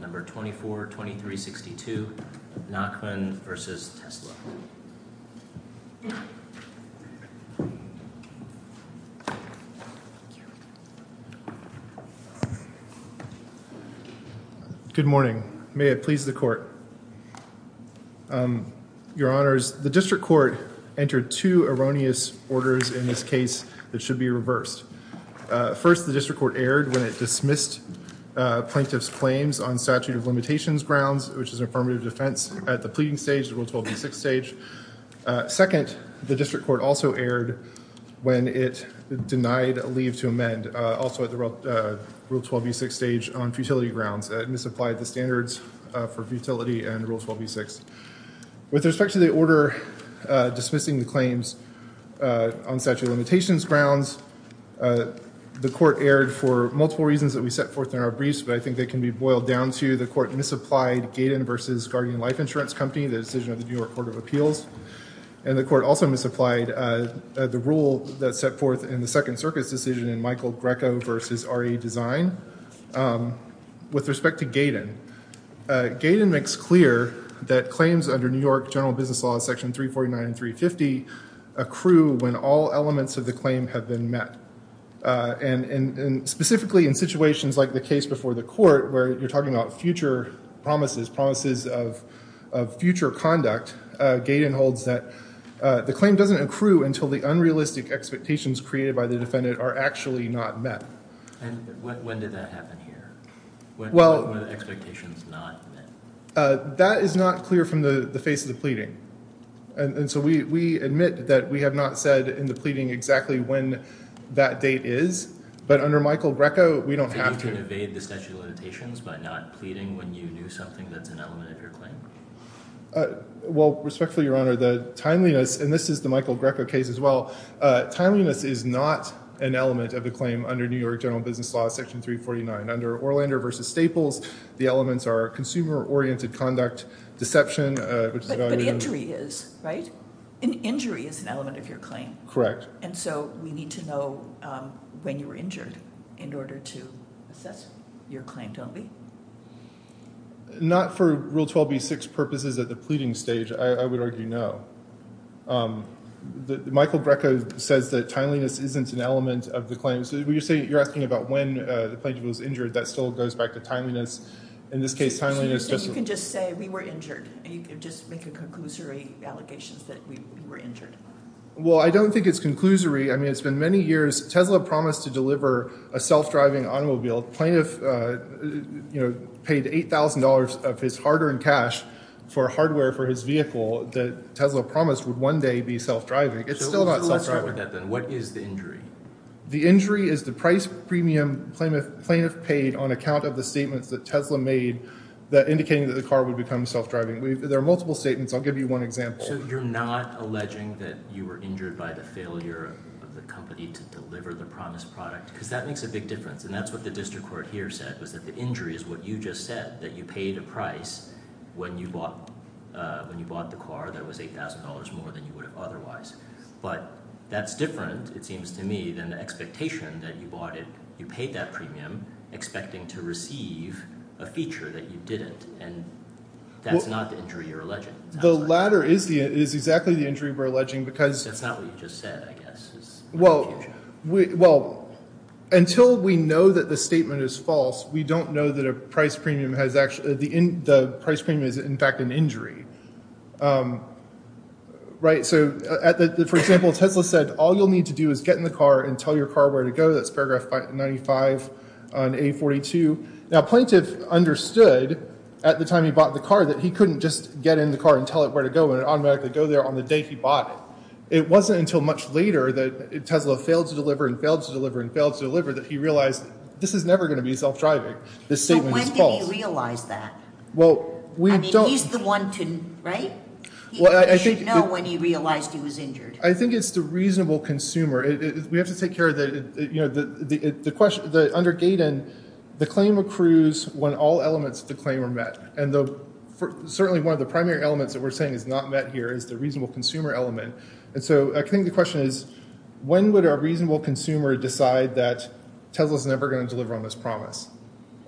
Number 242362, Nachman v. Tesla. Good morning. May it please the court. Your honors, the district court entered two erroneous orders in this case that should be reversed. First, the district court erred when it dismissed plaintiff's claims on statute of limitations grounds, which is affirmative defense at the pleading stage, the Rule 12b6 stage. Second, the district court also erred when it denied leave to amend, also at the Rule 12b6 stage on futility grounds. It misapplied the standards for futility and Rule 12b6. With respect to the order dismissing the claims on statute of limitations grounds, the court erred for multiple reasons that we set forth in our briefs, but I think they can be boiled down to the court misapplied Gaydon v. Guardian Life Insurance Company, the decision of the New York Court of Appeals, and the court also misapplied the rule that's set forth in the Second Circuit's decision in Michael Greco v. RE Design. With respect to Gaydon, Gaydon makes clear that claims under New York general business law section 349 and 350 accrue when all elements of the claim have been met. And specifically in situations like the case before the court, where you're talking about future promises, promises of future conduct, Gaydon holds that the claim doesn't accrue until the unrealistic expectations created by the defendant are actually not met. And when did that happen here? When were the expectations not met? That is not clear from the face of the pleading. And so we admit that we have not said in the pleading exactly when that date is, but under Michael Greco, we don't have to. So you can evade the statute of limitations by not pleading when you do something that's an element of your claim? Well, respectfully, Your Honor, the timeliness, and this is the Michael Greco case as well, timeliness is not an element of the claim under New York general business law section 349. Under Orlander v. Staples, the elements are consumer-oriented conduct, deception, which is evaluated. But injury is, right? Injury is an element of your claim. Correct. And so we need to know when you were injured in order to assess your claim, don't we? Not for Rule 12b-6 purposes at the pleading stage, I would argue no. Michael Greco says that timeliness isn't an element of the claim. So you're asking about when the plaintiff was injured, that still goes back to timeliness. In this case, timeliness- So you're saying you can just say, we were injured, and you can just make a conclusory allegations that we were injured? Well, I don't think it's conclusory. I mean, it's been many years. Tesla promised to deliver a self-driving automobile. The plaintiff paid $8,000 of his hard-earned cash for hardware for his vehicle that Tesla promised would one day be self-driving. It's still not self-driving. So what's the less part of that then? What is the injury? The injury is the price premium plaintiff paid on account of the statements that Tesla made that indicated that the car would become self-driving. There are multiple statements. I'll give you one example. So you're not alleging that you were injured by the failure of the company to deliver the promised product? Because that makes a big difference. And that's what the district court here said, was that the injury is what you just said, that you paid a price when you bought the car that was $8,000 more than you would have otherwise. But that's different, it seems to me, than the expectation that you bought it, you paid that premium expecting to receive a feature that you didn't. And that's not the injury you're alleging. The latter is exactly the injury we're alleging, because- That's not what you just said, I guess. Well, until we know that the statement is false, we don't know that the price premium is in fact an injury. Right, so for example, Tesla said, all you'll need to do is get in the car and tell your car where to go. That's paragraph 95 on A42. Now plaintiff understood at the time he bought the car that he couldn't just get in the car and tell it where to go, and it'd automatically go there on the day he bought it. It wasn't until much later that Tesla failed to deliver, and failed to deliver, and failed to deliver that he realized this is never gonna be self-driving. This statement is false. So when did he realize that? Well, we don't- I mean, he's the one to, right? Well, I think- He should know when he realized he was injured. I think it's the reasonable consumer. We have to take care of the, you know, under Gaydon, the claim accrues when all elements of the claim are met, and certainly one of the primary elements that we're saying is not met here is the reasonable consumer element. And so I think the question is, when would a reasonable consumer decide that Tesla's never gonna deliver on this promise?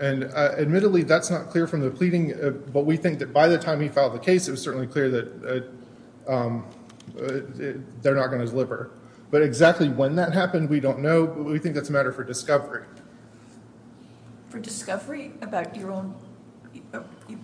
And admittedly, that's not clear from the pleading, but we think that by the time he filed the case, it was certainly clear that they're not gonna deliver. But exactly when that happened, we don't know, but we think that's a matter for discovery. For discovery about your own,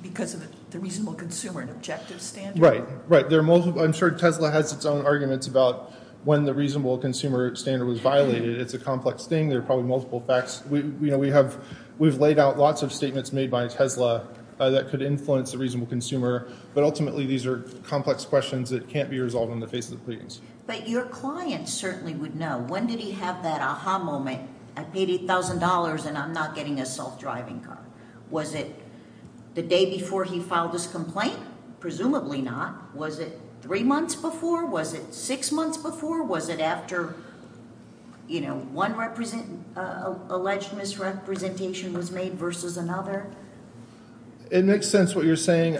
because of the reasonable consumer and objective standard? Right, right. I'm sure Tesla has its own arguments about when the reasonable consumer standard was violated. It's a complex thing. There are probably multiple facts. We've laid out lots of statements made by Tesla that could influence the reasonable consumer, but ultimately, these are complex questions that can't be resolved in the face of the pleadings. But your client certainly would know. When did he have that aha moment? I paid $1,000 and I'm not getting a self-driving car. Was it the day before he filed his complaint? Presumably not. Was it three months before? Was it six months before? Was it after one alleged misrepresentation was made versus another? It makes sense what you're saying.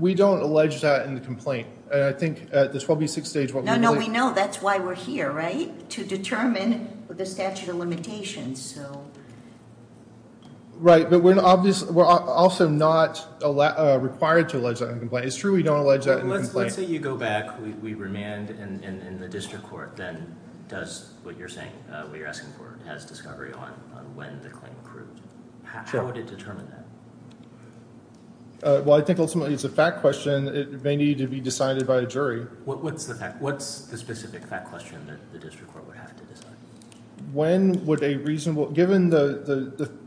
We don't allege that in the complaint. I think at the 12B6 stage, what we believe- No, no, we know. That's why we're here, right? To determine the statute of limitations. Right, but we're also not required to allege that in the complaint. It's true we don't allege that in the complaint. Let's say you go back, we remand, and the district court then does what you're saying, what you're asking for, has discovery on when the claim occurred. How would it determine that? Well, I think ultimately it's a fact question. It may need to be decided by a jury. What's the specific fact question that the district court would have to decide? When would a reasonable, given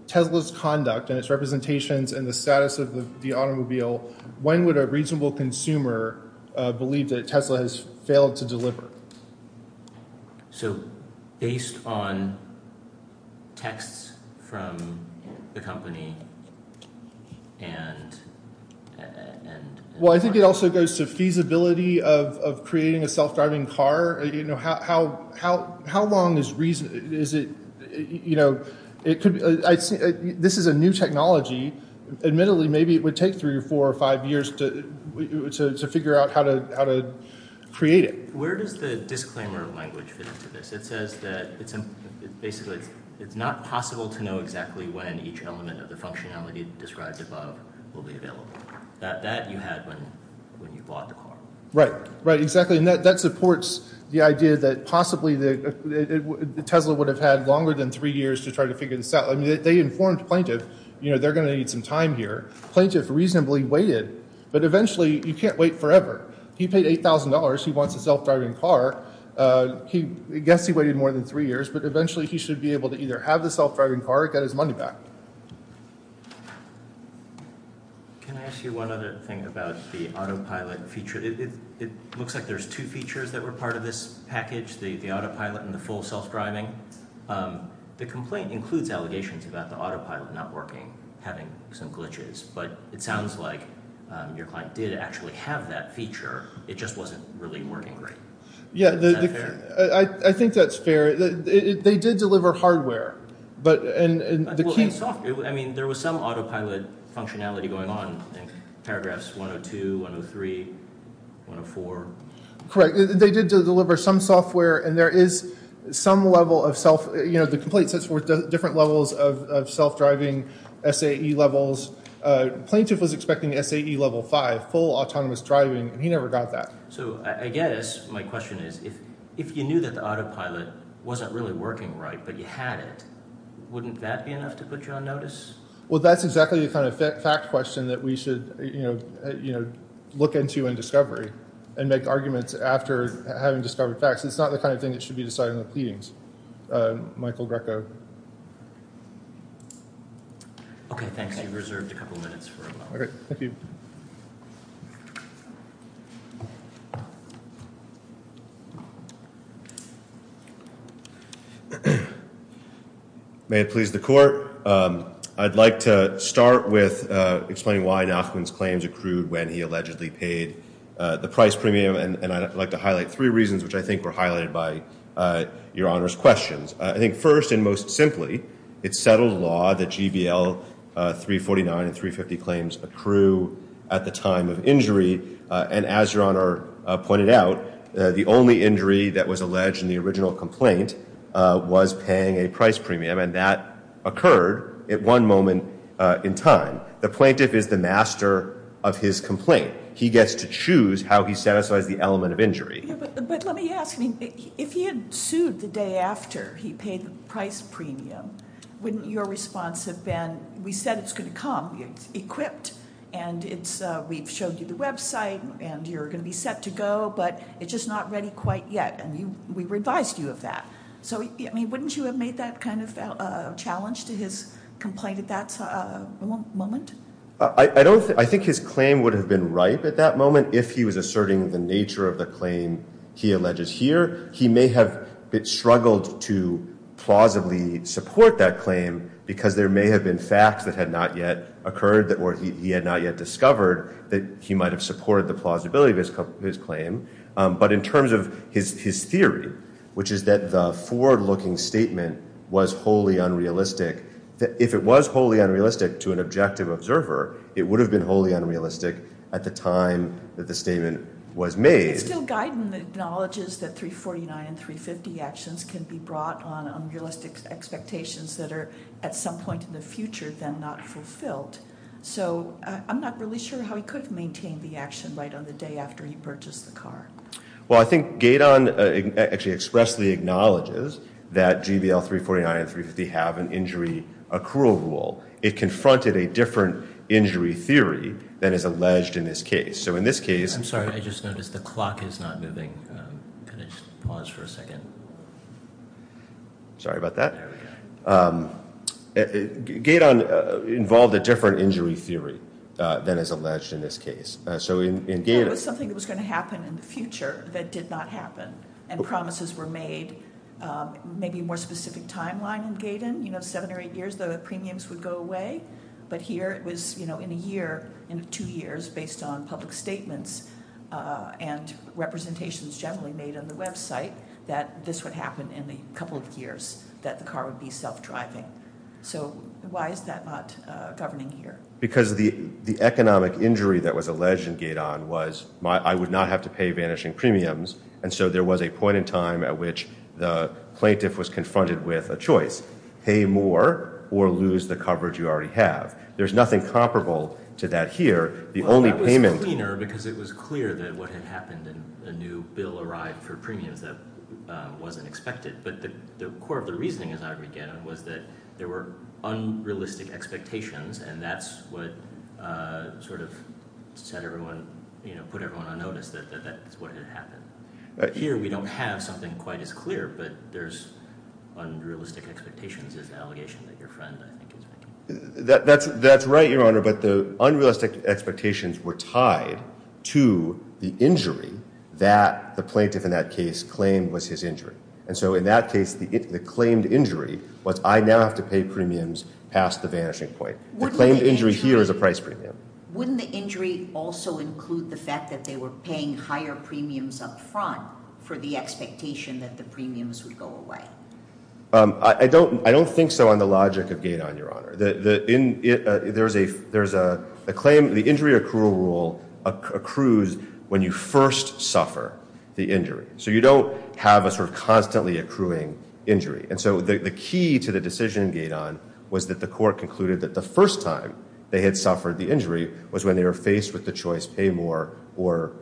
Tesla's conduct and its representations and the status of the automobile, when would a reasonable consumer believe that Tesla has failed to deliver? So based on texts from the company and- Well, I think it also goes to feasibility of creating a self-driving car. How long is reason, is it, you know, it could be, this is a new technology. Admittedly, maybe it would take three or four or five years to figure out how to create it. Where does the disclaimer language fit into this? It says that it's basically, it's not possible to know exactly when each element of the functionality described above will be available. That you had when you bought the car. Right, right, exactly, and that supports the idea that possibly the Tesla would have had longer than three years to try to figure this out. I mean, they informed plaintiff, you know, they're gonna need some time here. Plaintiff reasonably waited, but eventually you can't wait forever. He paid $8,000, he wants a self-driving car. He, I guess he waited more than three years, but eventually he should be able to either have the self-driving car or get his money back. Can I ask you one other thing about the autopilot feature? It looks like there's two features that were part of this package, the autopilot and the full self-driving. The complaint includes allegations about the autopilot not working, having some glitches, but it sounds like your client did actually have that feature. It just wasn't really working great. Yeah, I think that's fair. They did deliver hardware, but, and the key. I mean, there was some autopilot functionality going on. Paragraphs 102, 103, 104. Correct, they did deliver some software and there is some level of self, you know, the complaint sets forth different levels of self-driving SAE levels. Plaintiff was expecting SAE level five, full autonomous driving, and he never got that. So I guess my question is if you knew that the autopilot wasn't really working right, but you had it, wouldn't that be enough to put you on notice? Well, that's exactly the kind of fact question that we should, you know, look into in discovery and make arguments after having discovered facts. It's not the kind of thing that should be decided in the pleadings. Michael Greco. Okay, thanks. You've reserved a couple minutes for a moment. Okay, thank you. May it please the court. I'd like to start with explaining why Nachman's claims accrued when he allegedly paid the price premium. And I'd like to highlight three reasons, which I think were highlighted by Your Honor's questions. I think first and most simply, it's settled law that GBL 349 and 350 claims accrue at the time of injury. And as Your Honor pointed out, the only injury that was alleged in the original complaint was paying a price premium, and that occurred at one moment in time. The plaintiff is the master of his complaint. He gets to choose how he satisfies the element of injury. But let me ask, if he had sued the day after he paid the price premium, wouldn't your response have been, we said it's gonna come, it's equipped, and we've showed you the website, and you're gonna be set to go, but it's just not ready quite yet, and we revised you of that. So wouldn't you have made that kind of a challenge to his complaint at that moment? I think his claim would have been ripe at that moment if he was asserting the nature of the claim he alleges here. He may have struggled to plausibly support that claim because there may have been facts that had not yet occurred, or he had not yet discovered that he might have supported the plausibility of his claim. But in terms of his theory, which is that the forward-looking statement was wholly unrealistic. If it was wholly unrealistic to an objective observer, it would have been wholly unrealistic at the time that the statement was made. It's still Guyton that acknowledges that 349 and 350 actions can be brought on unrealistic expectations that are, at some point in the future, then not fulfilled. So I'm not really sure how he could maintain the action right on the day after he purchased the car. Well, I think Guyton actually expressly acknowledges that GVL 349 and 350 have an injury accrual rule. It confronted a different injury theory than is alleged in this case. So in this case- I'm sorry, I just noticed the clock is not moving. Could I just pause for a second? Sorry about that. Guyton involved a different injury theory than is alleged in this case. So in Guyton- It was something that was gonna happen in the future that did not happen, and promises were made, maybe a more specific timeline in Guyton. You know, seven or eight years, the premiums would go away. But here it was, you know, in a year, in two years, based on public statements and representations generally made on the website, that this would happen in the couple of years that the car would be self-driving. So why is that not governing here? Because the economic injury that was alleged in Guyton was I would not have to pay vanishing premiums, and so there was a point in time at which the plaintiff was confronted with a choice, pay more or lose the coverage you already have. There's nothing comparable to that here. The only payment- Well, that was cleaner because it was clear that what had happened in the new bill arrived for premiums that wasn't expected. But the core of the reasoning, as I would get on, was that there were unrealistic expectations, and that's what sort of set everyone, you know, put everyone on notice that that's what had happened. Here we don't have something quite as clear, but there's unrealistic expectations, is the allegation that your friend, I think, is making. That's right, Your Honor, but the unrealistic expectations were tied to the injury that the plaintiff in that case claimed was his injury. And so in that case, the claimed injury was I now have to pay premiums past the vanishing point. The claimed injury here is a price premium. Wouldn't the injury also include the fact that they were paying higher premiums upfront for the expectation that the premiums would go away? I don't think so on the logic of Gaton, Your Honor. There's a claim, the injury accrual rule accrues when you first suffer the injury. So you don't have a sort of constantly accruing injury. And so the key to the decision in Gaton was that the court concluded that the first time they had suffered the injury was when they were faced with the choice, pay more or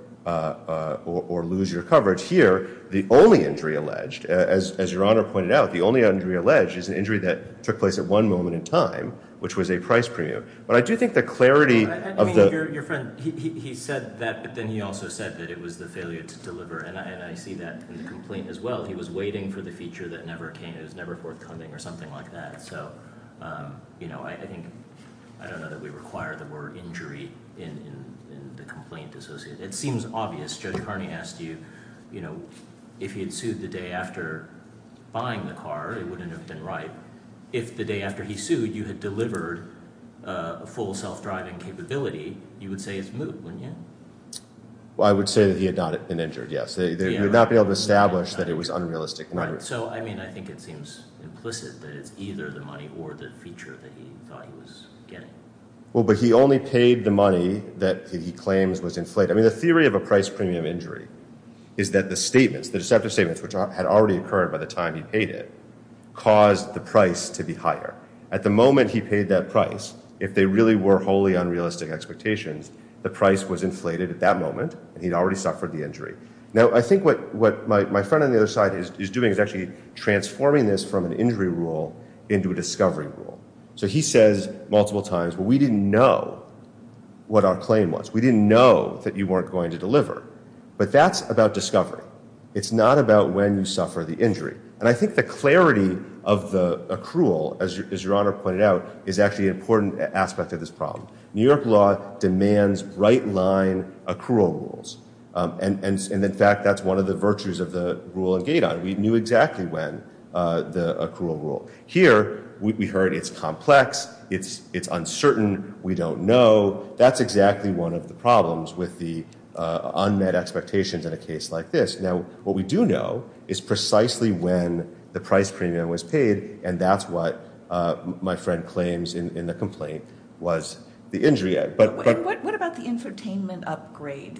lose your coverage. Here, the only injury alleged, as Your Honor pointed out, the only injury alleged is an injury that took place at one moment in time, which was a price premium. But I do think the clarity of the- I mean, your friend, he said that, but then he also said that it was the failure to deliver. And I see that in the complaint as well. He was waiting for the feature that never came. It was never forthcoming or something like that. So I think, I don't know that we require the word injury in the complaint associated. It seems obvious. Judge Kearney asked you if he had sued the day after buying the car, it wouldn't have been right. If the day after he sued, you had delivered a full self-driving capability, you would say it's moot, wouldn't you? Well, I would say that he had not been injured, yes. He would not be able to establish that it was unrealistic. So, I mean, I think it seems implicit that it's either the money or the feature that he thought he was getting. Well, but he only paid the money that he claims was inflated. I mean, the theory of a price premium injury is that the statements, the deceptive statements, which had already occurred by the time he paid it, caused the price to be higher. At the moment he paid that price, if they really were wholly unrealistic expectations, the price was inflated at that moment and he'd already suffered the injury. Now, I think what my friend on the other side is doing is actually transforming this from an injury rule into a discovery rule. So he says multiple times, well, we didn't know what our claim was. We didn't know that you weren't going to deliver. But that's about discovery. It's not about when you suffer the injury. And I think the clarity of the accrual, as Your Honor pointed out, is actually an important aspect of this problem. New York law demands right-line accrual rules. And in fact, that's one of the virtues of the rule in Gaydon. We knew exactly when the accrual rule. Here, we heard it's complex, it's uncertain, we don't know. That's exactly one of the problems with the unmet expectations in a case like this. Now, what we do know is precisely when the price premium was paid, and that's what my friend claims in the complaint was the injury at. But-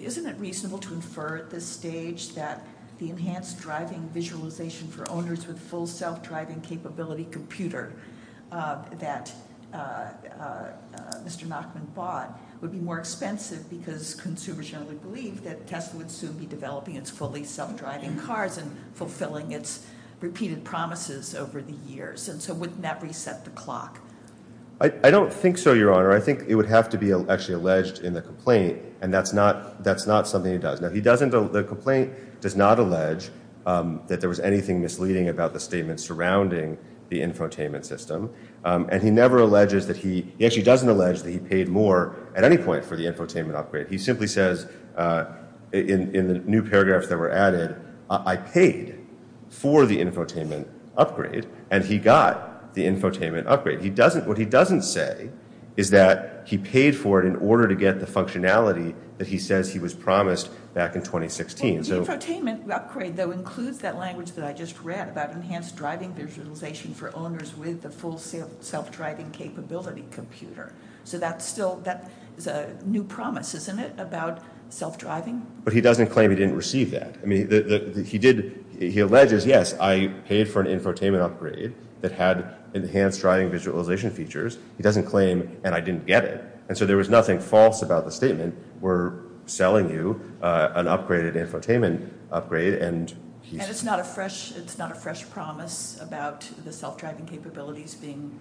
Is it reasonable to infer at this stage that the enhanced driving visualization for owners with full self-driving capability computer that Mr. Nachman bought would be more expensive because consumers generally believe that Tesla would soon be developing its fully self-driving cars and fulfilling its repeated promises over the years? And so wouldn't that reset the clock? I don't think so, Your Honor. I think it would have to be actually alleged in the complaint. And that's not something he does. Now, the complaint does not allege that there was anything misleading about the statement surrounding the infotainment system. And he never alleges that he, he actually doesn't allege that he paid more at any point for the infotainment upgrade. He simply says in the new paragraphs that were added, I paid for the infotainment upgrade and he got the infotainment upgrade. What he doesn't say is that he paid for it in order to get the functionality that he says he was promised back in 2016. The infotainment upgrade, though, includes that language that I just read about enhanced driving visualization for owners with the full self-driving capability computer. So that's still, that is a new promise, isn't it, about self-driving? But he doesn't claim he didn't receive that. I mean, he did, he alleges, yes, I paid for an infotainment upgrade that had enhanced driving visualization features. He doesn't claim, and I didn't get it. And so there was nothing false about the statement. We're selling you an upgraded infotainment upgrade and he's- And it's not a fresh, it's not a fresh promise about the self-driving capabilities being,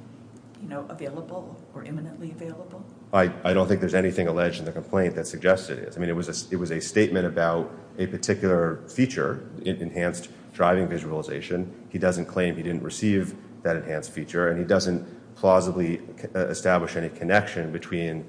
you know, available or imminently available? I don't think there's anything alleged in the complaint that suggests it is. I mean, it was a statement about a particular feature, enhanced driving visualization. He doesn't claim he didn't receive that enhanced feature and he doesn't plausibly establish any connection between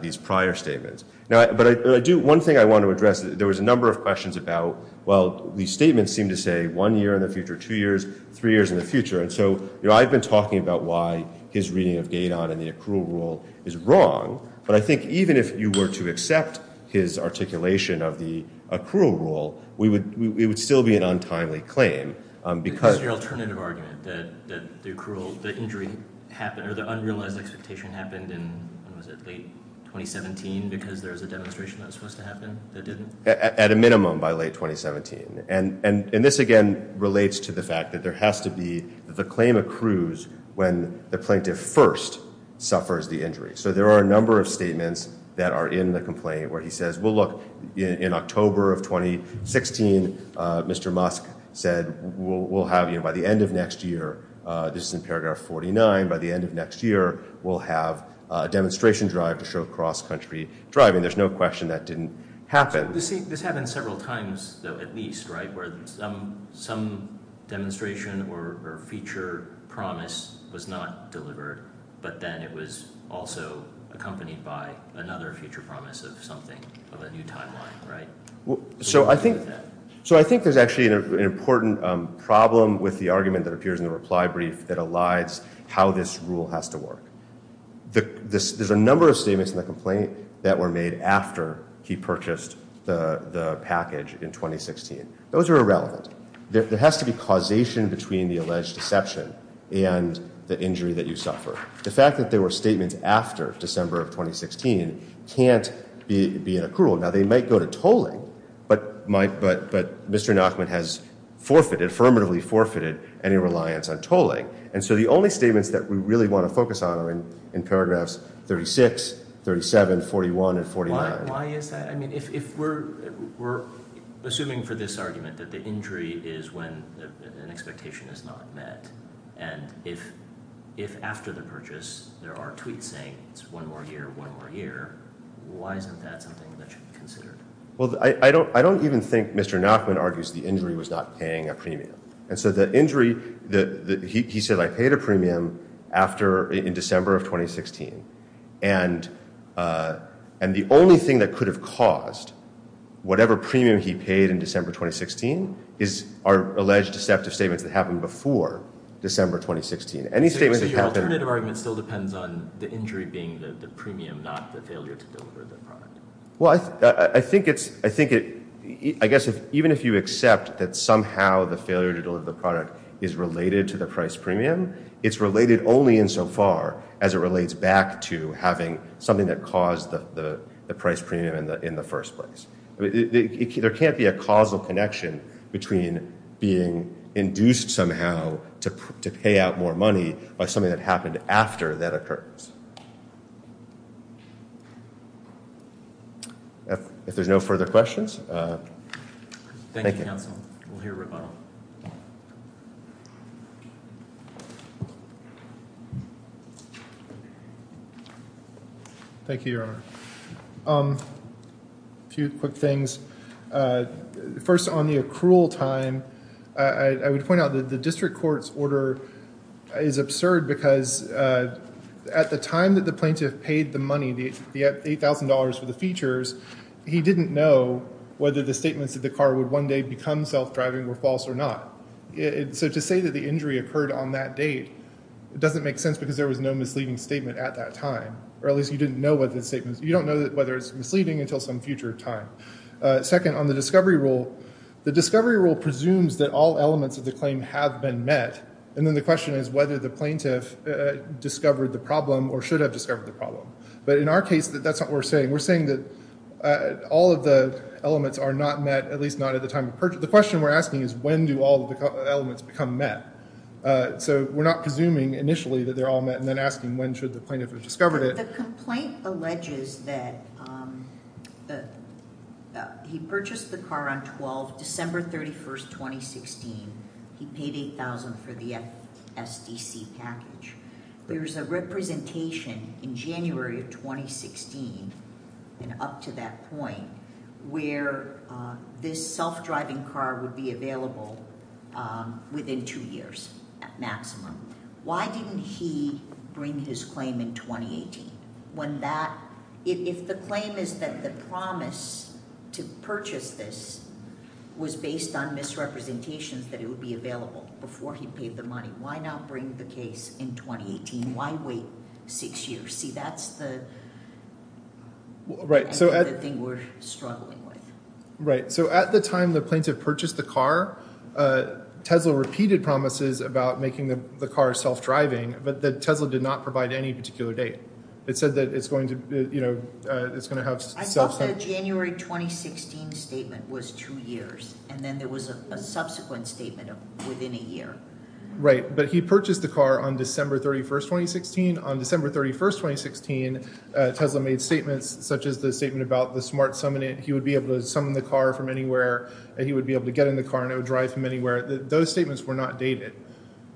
these prior statements. Now, but I do, one thing I want to address, there was a number of questions about, well, these statements seem to say one year in the future, two years, three years in the future. And so, you know, I've been talking about why his reading of Gaydon and the accrual rule is wrong, but I think even if you were to accept his articulation of the accrual rule, we would, it would still be an untimely claim. Because- Because of your alternative argument that the accrual, the injury happened, or the unrealized expectation happened in, when was it, late 2017? Because there was a demonstration that was supposed to happen that didn't? At a minimum by late 2017. And this again relates to the fact that there has to be, the claim accrues when the plaintiff first suffers the injury. So there are a number of statements that are in the complaint where he says, well, look, in October of 2016, Mr. Musk said, we'll have you by the end of next year, this is in paragraph 49, by the end of next year, we'll have a demonstration drive to show cross-country driving. There's no question that didn't happen. This happened several times, though, at least, right? Where some demonstration or feature promise was not delivered, but then it was also accompanied by another feature promise of something, of a new timeline, right? So I think, so I think there's actually an important problem with the argument that appears in the reply brief that elides how this rule has to work. There's a number of statements in the complaint that were made after he purchased the package in 2016. Those are irrelevant. There has to be causation between the alleged deception and the injury that you suffer. The fact that there were statements after December of 2016 can't be an accrual. Now, they might go to tolling, but Mr. Nachman has forfeited, affirmatively forfeited, any reliance on tolling. And so the only statements that we really wanna focus on are in paragraphs 36, 37, 41, and 49. Why is that? I mean, if we're assuming for this argument that the injury is when an expectation is not met, and if after the purchase there are tweets saying it's one more year, one more year, why isn't that something that should be considered? Well, I don't even think Mr. Nachman argues the injury was not paying a premium. And so the injury, he said, I paid a premium in December of 2016. And the only thing that could have caused whatever premium he paid in December 2016 is our alleged deceptive statements that happened before December 2016. Any statements that happened- So your alternative argument still depends on the injury being the premium, not the failure to deliver the product. Well, I think it's, I guess even if you accept that somehow the failure to deliver the product is related to the price premium, it's related only insofar as it relates back to having something that caused the price premium in the first place. I mean, there can't be a causal connection between being induced somehow to pay out more money by something that happened after that occurs. If there's no further questions. Thank you. Thank you, counsel. We'll hear a rebuttal. Thank you, Your Honor. Few quick things. First, on the accrual time, I would point out that the district court's order is absurd because at the time that the plaintiff paid the money, the $8,000 for the features, he didn't know whether the statements that the car would one day become self-driving were false or not. So to say that the injury occurred on that date, it doesn't make sense because there was no misleading statement at that time, or at least you didn't know what the statements, you don't know whether it's misleading until some future time. Second, on the discovery rule, the discovery rule presumes that all elements of the claim have been met, and then the question is whether the plaintiff discovered the problem or should have discovered the problem. But in our case, that's not what we're saying. We're saying that all of the elements are not met, at least not at the time of purchase. The question we're asking is when do all of the elements become met? So we're not presuming initially that they're all met and then asking when should the plaintiff have discovered it. The complaint alleges that he purchased the car on 12, December 31st, 2016. He paid $8,000 for the FSDC package. There's a representation in January of 2016, and up to that point, where this self-driving car would be available within two years at maximum. Why didn't he bring his claim in 2018? When that, if the claim is that the promise to purchase this was based on misrepresentations that it would be available before he paid the money, why not bring the case in 2018? Why wait six years? See, that's the thing we're struggling with. Right, so at the time the plaintiff purchased the car, Tesla repeated promises about making the car self-driving, but that Tesla did not provide any particular date. It said that it's going to have self-driving. I thought the January 2016 statement was two years, and then there was a subsequent statement of within a year. Right, but he purchased the car on December 31st, 2016. On December 31st, 2016, Tesla made statements such as the statement about the smart summoning. He would be able to summon the car from anywhere, and he would be able to get in the car, and it would drive him anywhere. Those statements were not dated.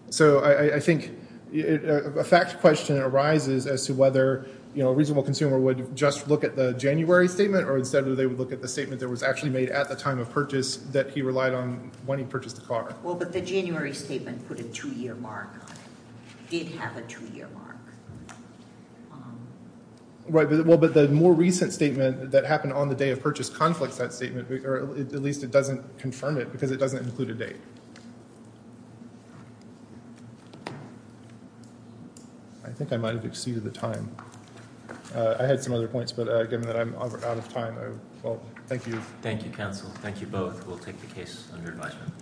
So I think a fact question arises as to whether a reasonable consumer would just look at the January statement, or instead would they look at the statement that was actually made at the time of purchase that he relied on when he purchased the car. Well, but the January statement put a two-year mark on it. It did have a two-year mark. Right, well, but the more recent statement that happened on the day of purchase conflicts that statement, or at least it doesn't confirm it because it doesn't include a date. I think I might have exceeded the time. I had some other points, but given that I'm out of time, well, thank you. Thank you, counsel. Thank you both. We'll take the case under advisement.